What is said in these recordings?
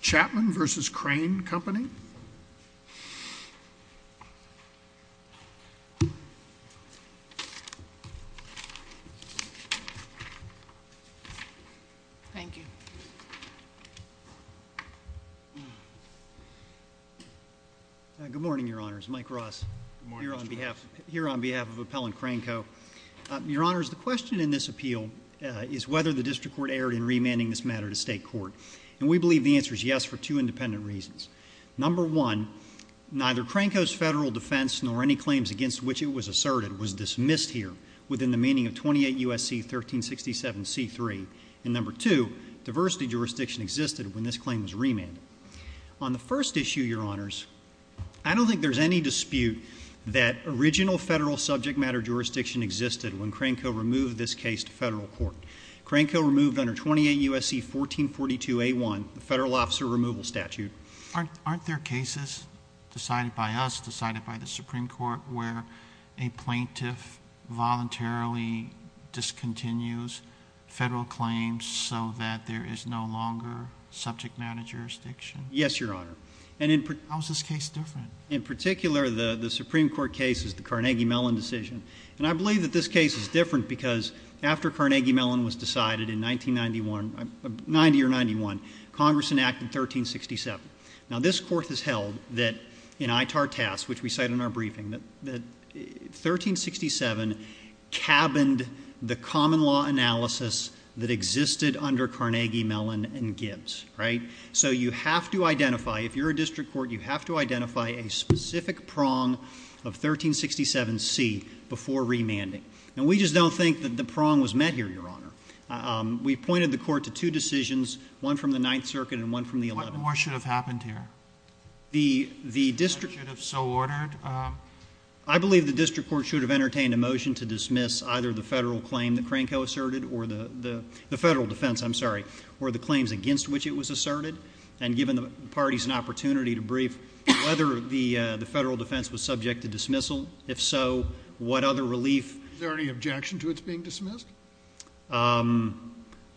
Chapman v. Crane Company Thank you Good morning, Your Honors. Mike Ross here on behalf of Appellant Crane Co. Your Honors, the question in this appeal is whether the District Court erred in remanding this matter to state court. And we believe the answer is yes for two independent reasons. Number one, neither Crane Co.'s federal defense nor any claims against which it was asserted was dismissed here within the meaning of 28 U.S.C. 1367 C.3. And number two, diversity jurisdiction existed when this claim was remanded. On the first issue, Your Honors, I don't think there's any dispute that original federal subject matter jurisdiction existed when Crane Co. removed this case to federal court. Crane Co. removed under 28 U.S.C. 1442 A.1 the federal officer removal statute. Aren't there cases decided by us, decided by the Supreme Court where a plaintiff voluntarily discontinues federal claims so that there is no longer subject matter jurisdiction? Yes, Your Honor. How is this case different? In particular, the Supreme Court case is the Carnegie Mellon decision. And I believe that this case is different because after Carnegie Mellon was decided in 1990 or 91, Congress enacted 1367. Now, this Court has held that in ITAR-TAS, which we cite in our briefing, that 1367 cabined the common law analysis that existed under Carnegie Mellon and Gibbs, right? So you have to identify, if you're a district court, you have to identify a specific prong of 1367C before remanding. And we just don't think that the prong was met here, Your Honor. We pointed the court to two decisions, one from the Ninth Circuit and one from the 11th. What more should have happened here? The district court should have entertained a motion to dismiss either the federal claim that Crane Co. asserted or the federal defense, I'm sorry, or the claims against which it was asserted. And given the parties an opportunity to brief whether the federal defense was subject to dismissal. If so, what other relief? Is there any objection to its being dismissed?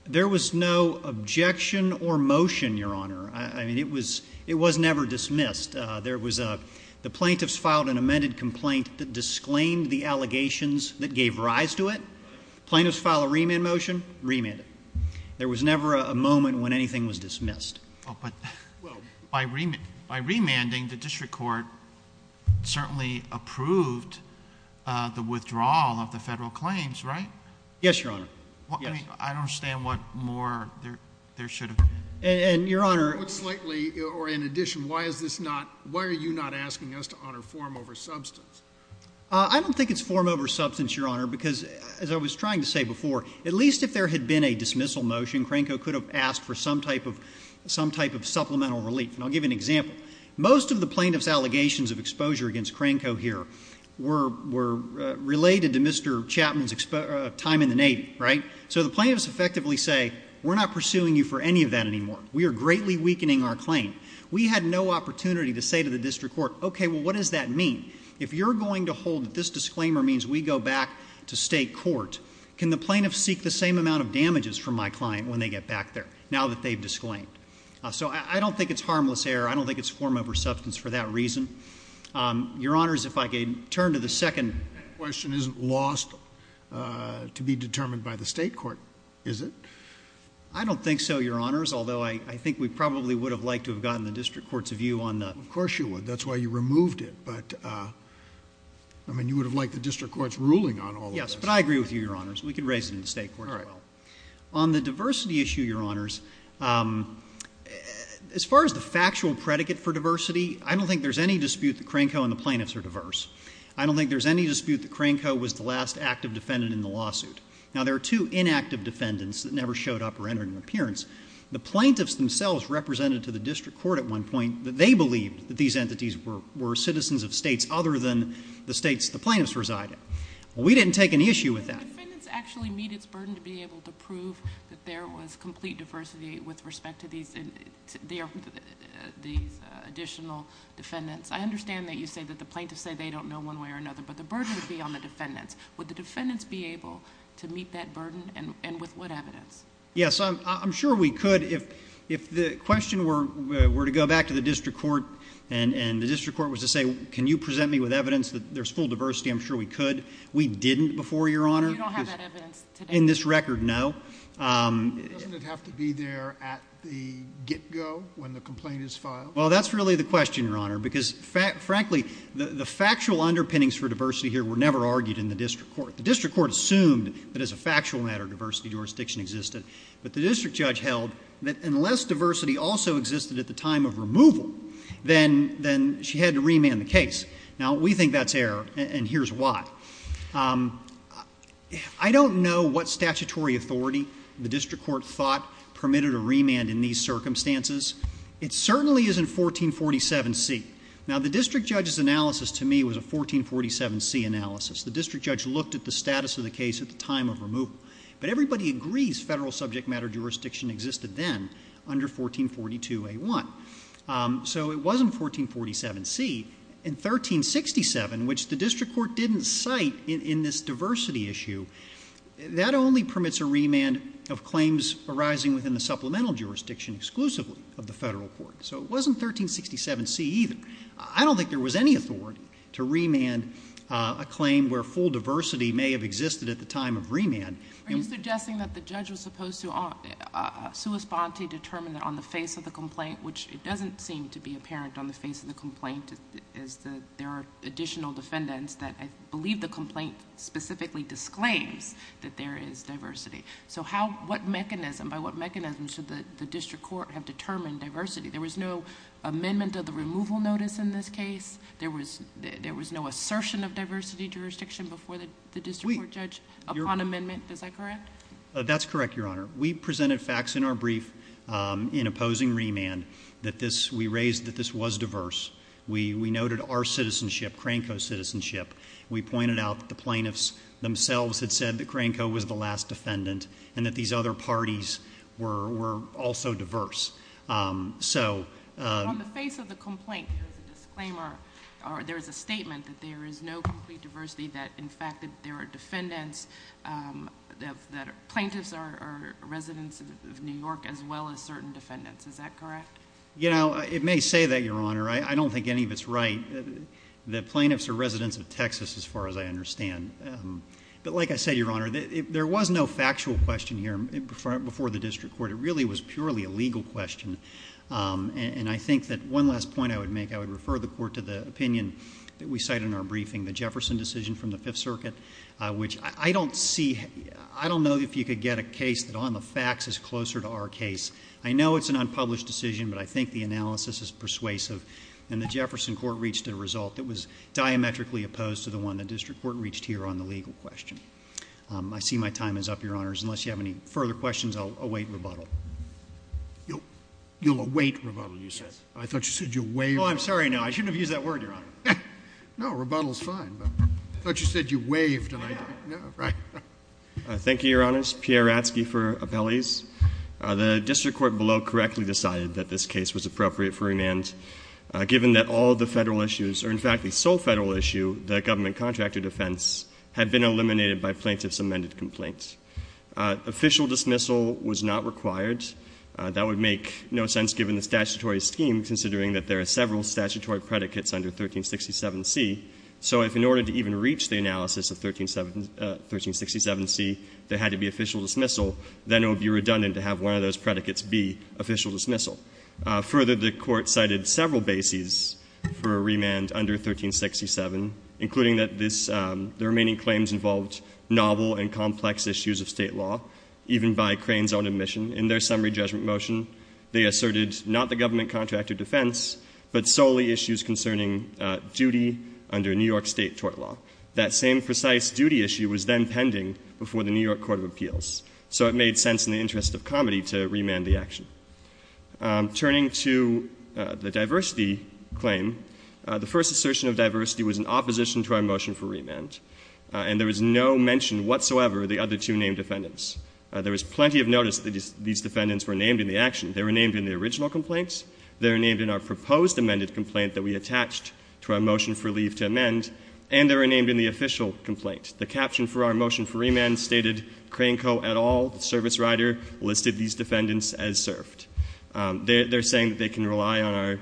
There was no objection or motion, Your Honor. I mean, it was never dismissed. The plaintiffs filed an amended complaint that disclaimed the allegations that gave rise to it. Plaintiffs filed a remand motion, remanded. There was never a moment when anything was dismissed. Oh, but by remanding, the district court certainly approved the withdrawal of the federal claims, right? Yes, Your Honor. I mean, I don't understand what more there should have been. And, Your Honor. In addition, why is this not, why are you not asking us to honor form over substance? I don't think it's form over substance, Your Honor, because, as I was trying to say before, at least if there had been a dismissal motion, Crane Co could have asked for some type of supplemental relief. And I'll give you an example. Most of the plaintiffs' allegations of exposure against Crane Co here were related to Mr. Chapman's time in the Navy, right? So the plaintiffs effectively say, we're not pursuing you for any of that anymore. We are greatly weakening our claim. We had no opportunity to say to the district court, okay, well, what does that mean? If you're going to hold that this disclaimer means we go back to state court, can the plaintiffs seek the same amount of damages from my client when they get back there, now that they've disclaimed? So I don't think it's harmless error. I don't think it's form over substance for that reason. Your Honors, if I could turn to the second question. That question isn't lost to be determined by the state court, is it? I don't think so, Your Honors, although I think we probably would have liked to have gotten the district court's view on that. Of course you would. That's why you removed it. But, I mean, you would have liked the district court's ruling on all of this. Yes, but I agree with you, Your Honors. We could raise it in the state court as well. All right. On the diversity issue, Your Honors, as far as the factual predicate for diversity, I don't think there's any dispute that Crane Co and the plaintiffs are diverse. I don't think there's any dispute that Crane Co was the last active defendant in the lawsuit. The plaintiffs themselves represented to the district court at one point that they believed that these entities were citizens of states other than the states the plaintiffs resided. We didn't take any issue with that. Did the defendants actually meet its burden to be able to prove that there was complete diversity with respect to these additional defendants? I understand that you say that the plaintiffs say they don't know one way or another, but the burden would be on the defendants. Would the defendants be able to meet that burden and with what evidence? Yes. I'm sure we could. If the question were to go back to the district court and the district court was to say, can you present me with evidence that there's full diversity, I'm sure we could. We didn't before, Your Honor. You don't have that evidence today. In this record, no. Doesn't it have to be there at the get-go when the complaint is filed? Well, that's really the question, Your Honor, because frankly, the factual underpinnings for diversity here were never argued in the district court. The district court assumed that as a factual matter, diversity jurisdiction existed, but the district judge held that unless diversity also existed at the time of removal, then she had to remand the case. Now, we think that's error, and here's why. I don't know what statutory authority the district court thought permitted a remand in these circumstances. It certainly isn't 1447C. Now, the district judge's analysis to me was a 1447C analysis. The district judge looked at the status of the case at the time of removal, but everybody agrees federal subject matter jurisdiction existed then under 1442A1. So it wasn't 1447C. In 1367, which the district court didn't cite in this diversity issue, that only permits a remand of claims arising within the supplemental jurisdiction exclusively of the federal court. So it wasn't 1367C either. I don't think there was any authority to remand a claim where full diversity may have existed at the time of remand. Are you suggesting that the judge was supposed to, a sua sponte determined on the face of the complaint, which it doesn't seem to be apparent on the face of the complaint, is that there are additional defendants that I believe the complaint specifically disclaims that there is diversity. So how, what mechanism, by what mechanism should the district court have determined diversity? There was no amendment of the removal notice in this case. There was no assertion of diversity jurisdiction before the district court judge upon amendment. Is that correct? That's correct, Your Honor. We presented facts in our brief in opposing remand that this, we raised that this was diverse. We noted our citizenship, Cranco's citizenship. We pointed out that the plaintiffs themselves had said that Cranco was the last defendant and that these other parties were also diverse. So on the face of the complaint, there's a disclaimer, or there's a statement that there is no complete diversity that in fact that there are defendants, that plaintiffs are residents of New York as well as certain defendants. Is that correct? You know, it may say that, Your Honor. I don't think any of it's right. The plaintiffs are residents of Texas as far as I understand. But like I said, Your Honor, there was no factual question here before the district court. It really was purely a legal question. And I think that one last point I would make, I would refer the court to the opinion that we cite in our briefing, the Jefferson decision from the Fifth Circuit, which I don't see, I don't know if you could get a case that on the facts is closer to our case. I know it's an unpublished decision, but I think the analysis is persuasive. And the Jefferson court reached a result that was diametrically opposed to the one the district court reached here on the legal question. I see my time is up, Your Honors. Unless you have any further questions, I'll await rebuttal. You'll await rebuttal, you said? Yes. I thought you said you waved. Oh, I'm sorry. No, I shouldn't have used that word, Your Honor. No, rebuttal is fine. I thought you said you waved and I didn't know. Right. Thank you, Your Honors. Pierre Ratzke for appellees. The district court below correctly decided that this case was appropriate for remand, given that all of the Federal issues, or in fact the sole Federal issue, the government contractor defense, had been eliminated by plaintiff's amended complaint. Official dismissal was not required. That would make no sense given the statutory scheme, considering that there are several statutory predicates under 1367c. So if in order to even reach the analysis of 1367c, there had to be official dismissal, then it would be redundant to have one of those predicates be official dismissal. Further, the Court cited several bases for a remand under 1367, including that this the remaining claims involved novel and complex issues of State law, even by Crane's own admission. In their summary judgment motion, they asserted not the government contractor defense, but solely issues concerning duty under New York State tort law. That same precise duty issue was then pending before the New York Court of Appeals. So it made sense in the interest of comedy to remand the action. Turning to the diversity claim, the first assertion of diversity was in opposition to our motion for remand. And there was no mention whatsoever of the other two named defendants. There was plenty of notice that these defendants were named in the action. They were named in the original complaints. They were named in our proposed amended complaint that we attached to our motion for leave to amend. And they were named in the official complaint. The caption for our motion for remand stated, Crane Co. et al., service rider, listed these defendants as served. They're saying that they can rely on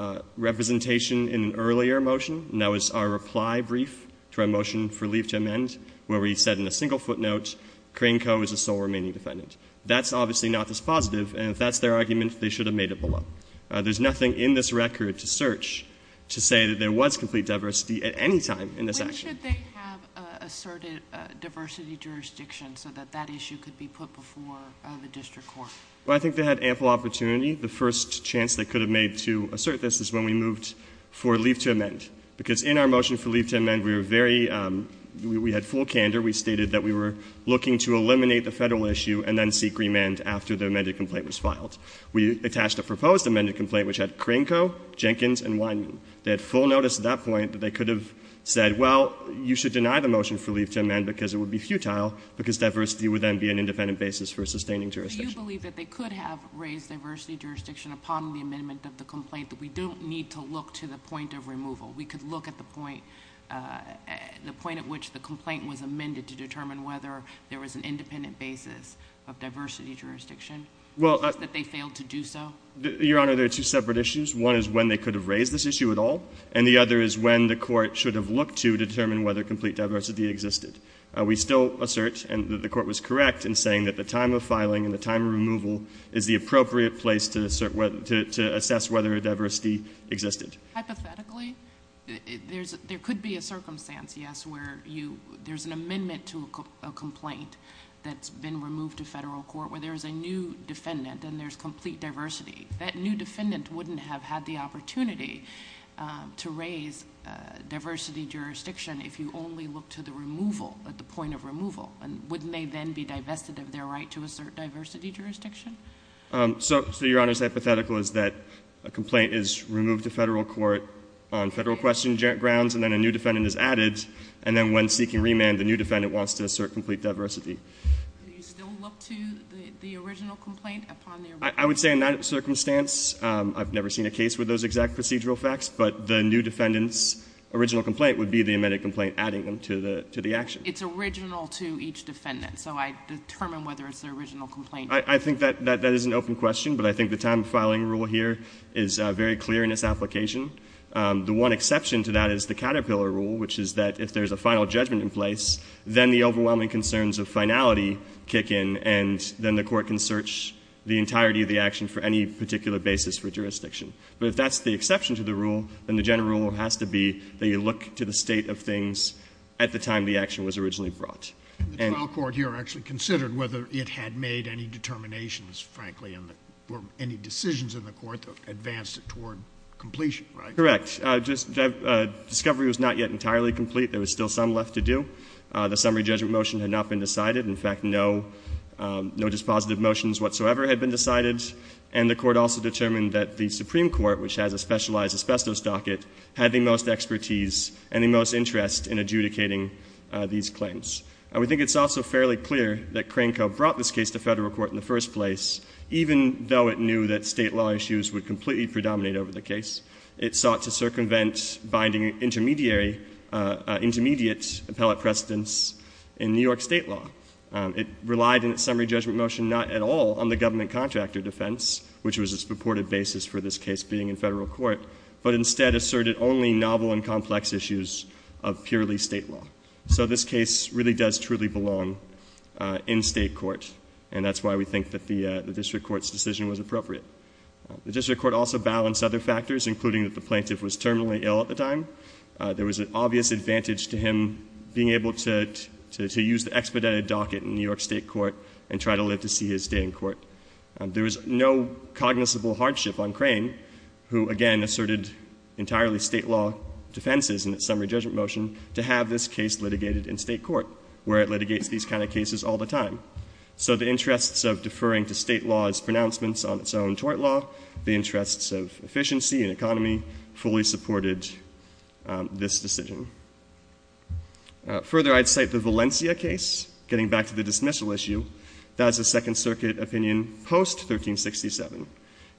our representation in an earlier motion. And that was our reply brief to our motion for leave to amend, where we said in a single footnote, Crane Co. is the sole remaining defendant. That's obviously not this positive. And if that's their argument, they should have made it below. There's nothing in this record to search to say that there was complete diversity at any time in this action. When should they have asserted diversity jurisdiction so that that issue could be put before the district court? Well, I think they had ample opportunity. The first chance they could have made to assert this is when we moved for leave to amend. Because in our motion for leave to amend, we were very ‑‑ we had full candor. We stated that we were looking to eliminate the Federal issue and then seek remand after the amended complaint was filed. We attached a proposed amended complaint, which had Crane Co., Jenkins, and Wineman. They had full notice at that point that they could have said, well, you should deny the motion for leave to amend because it would be futile, because diversity would then be an independent basis for sustaining jurisdiction. Do you believe that they could have raised diversity jurisdiction upon the amendment of the complaint, that we don't need to look to the point of removal? We could look at the point ‑‑ the point at which the complaint was amended to determine whether there was an independent basis of diversity jurisdiction because they failed to do so? Your Honor, there are two separate issues. One is when they could have raised this issue at all, and the other is when the court should have looked to determine whether complete diversity existed. We still assert, and the court was correct in saying that the time of filing and the time of removal is the appropriate place to assess whether diversity existed. Hypothetically, there could be a circumstance, yes, where there's an amendment to a complaint that's been removed to Federal court where there's a new defendant and there's complete diversity. That new defendant wouldn't have had the opportunity to raise diversity jurisdiction if you only look to the removal, at the point of removal. And wouldn't they then be divested of their right to assert diversity jurisdiction? So, Your Honor, it's hypothetical is that a complaint is removed to Federal court on Federal question grounds and then a new defendant is added, and then when seeking remand, the new defendant wants to assert complete diversity. Do you still look to the original complaint upon their ‑‑ I would say in that circumstance, I've never seen a case with those exact procedural facts, but the new defendant's original complaint would be the amended complaint adding them to the action. It's original to each defendant. So I determine whether it's the original complaint. I think that is an open question, but I think the time of filing rule here is very clear in its application. The one exception to that is the Caterpillar rule, which is that if there's a final judgment in place, then the overwhelming concerns of finality kick in and then the court can search the entirety of the action for any particular basis for jurisdiction. But if that's the exception to the rule, then the general rule has to be that you look to the state of things at the time the action was originally brought. And ‑‑ And the trial court here actually considered whether it had made any determinations, frankly, or any decisions in the court that advanced it toward completion, right? Correct. Discovery was not yet entirely complete. There was still some left to do. The summary judgment motion had not been decided. In fact, no ‑‑ no dispositive motions whatsoever had been decided. And the court also determined that the Supreme Court, which has a specialized asbestos docket, had the most expertise and the most interest in adjudicating these claims. And we think it's also fairly clear that Crane Co. brought this case to Federal Court in the first place, even though it knew that State law issues would completely predominate over the case. It sought to circumvent binding intermediary ‑‑ intermediate appellate precedence in New York State law. It relied in its summary judgment motion not at all on the government contractor defense, which was its purported basis for this case being in Federal Court, but instead asserted only novel and complex issues of purely State law. So this case really does truly belong in State court. And that's why we think that the district court's decision was appropriate. The district court also balanced other factors, including that the plaintiff was terminally ill at the time. There was an obvious advantage to him being able to use the expedited docket in New York State court and try to live to see his day in court. There was no cognizable hardship on Crane, who, again, asserted entirely State law defenses in its summary judgment motion, to have this case litigated in State court, where it litigates these kind of cases all the time. So the interests of deferring to State law's pronouncements on its own tort law, the interests of efficiency and economy fully supported this decision. Further, I'd cite the Valencia case, getting back to the dismissal issue. That is a Second Circuit opinion post-1367,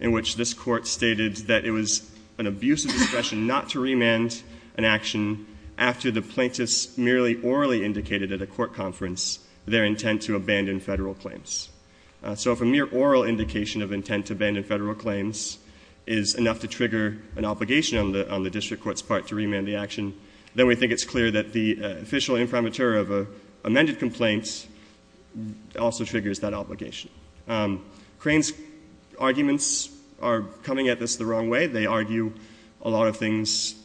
in which this Court stated that it was an abuse of discretion not to remand an action after the plaintiff's merely orally indicated at a court conference their intent to abandon Federal claims. So if a mere oral indication of intent to abandon Federal claims is enough to trigger an obligation on the district court's part to remand the action, then we think it's clear that the official inframature of an amended complaint also triggers that obligation. Crane's arguments are coming at this the wrong way. They argue a lot of things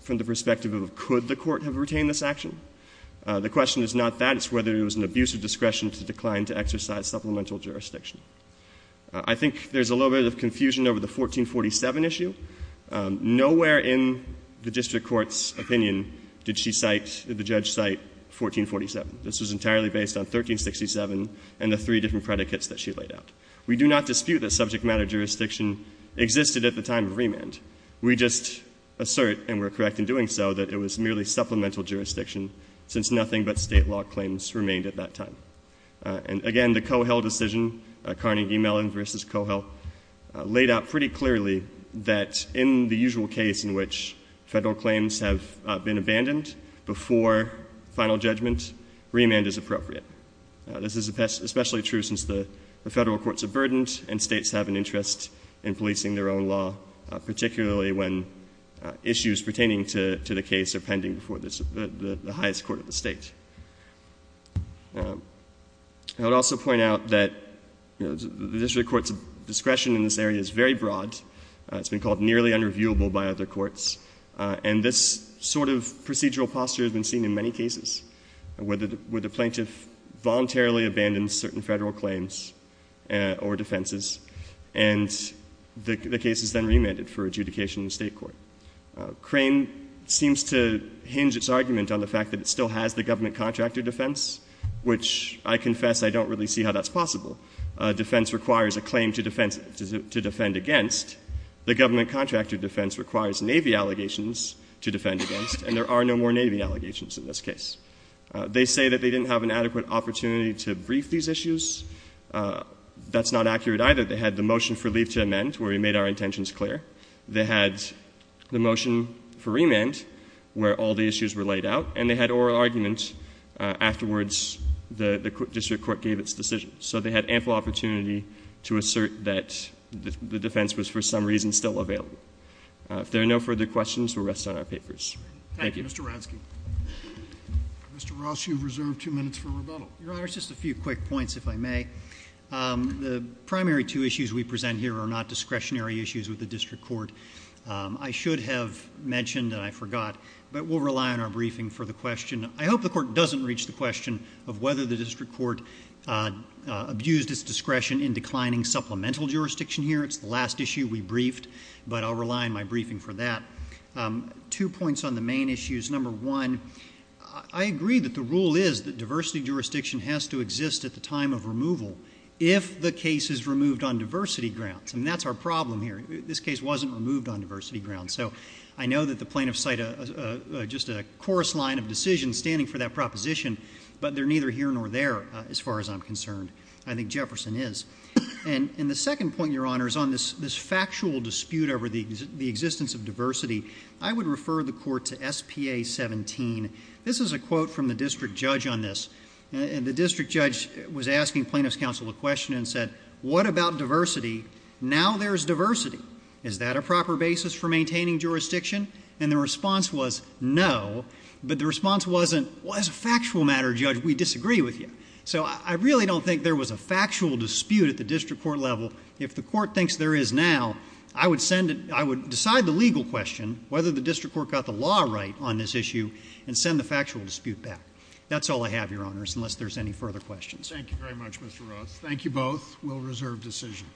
from the perspective of could the court have retained this action. The question is not that. It's whether it was an abuse of discretion to decline to exercise supplemental jurisdiction. I think there's a little bit of confusion over the 1447 issue. Nowhere in the district court's opinion did she cite, did the judge cite 1447. This was entirely based on 1367 and the three different predicates that she laid out. We do not dispute that subject matter jurisdiction existed at the time of remand. We just assert, and we're correct in doing so, that it was merely supplemental jurisdiction since nothing but State law claims remained at that time. And again, the Cohill decision, Carnegie-Mellon v. Cohill, laid out pretty clearly that in the usual case in which Federal claims have been abandoned before final judgment, remand is appropriate. This is especially true since the Federal courts are burdened and States have an interest in policing their own law, particularly when issues pertaining to the case are pending before the highest court of the State. I would also point out that the district court's discretion in this area is very broad. It's been called nearly unreviewable by other courts. And this sort of procedural posture has been seen in many cases, where the plaintiff voluntarily abandons certain Federal claims or defenses, and the case is then remanded for adjudication in the State court. Crane seems to hinge its argument on the fact that it still has the government contractor defense, which I confess I don't really see how that's possible. Defense requires a claim to defend against. The government contractor defense requires Navy allegations to defend against, and there are no more Navy allegations in this case. They say that they didn't have an adequate opportunity to brief these issues. That's not accurate either. They had the motion for leave to amend, where we made our intentions clear. They had the motion for remand, where all the issues were laid out. And they had oral argument. Afterwards, the district court gave its decision. So they had ample opportunity to assert that the defense was, for some reason, still available. If there are no further questions, we'll rest on our papers. Thank you. Thank you, Mr. Radsky. Mr. Ross, you have reserved two minutes for rebuttal. Your Honor, just a few quick points, if I may. The primary two issues we present here are not discretionary issues with the district court. I should have mentioned, and I forgot, but we'll rely on our briefing for the question. I hope the court doesn't reach the question of whether the district court abused its discretion in declining supplemental jurisdiction here. It's the last issue we briefed, but I'll rely on my briefing for that. Two points on the main issues. Number one, I agree that the rule is that diversity jurisdiction has to exist at a time of removal if the case is removed on diversity grounds. And that's our problem here. This case wasn't removed on diversity grounds. So I know that the plaintiffs cite just a coarse line of decision standing for that proposition, but they're neither here nor there, as far as I'm concerned. I think Jefferson is. And the second point, Your Honor, is on this factual dispute over the existence of diversity. I would refer the court to SPA 17. This is a quote from the district judge on this. And the district judge was asking plaintiff's counsel a question and said, what about diversity? Now there's diversity. Is that a proper basis for maintaining jurisdiction? And the response was, no. But the response wasn't, as a factual matter, Judge, we disagree with you. So I really don't think there was a factual dispute at the district court level. If the court thinks there is now, I would decide the legal question, whether the district court got the law right on this issue, and send the factual dispute back. That's all I have, Your Honors, unless there's any further questions. Thank you very much, Mr. Ross. Thank you both. We'll reserve decision.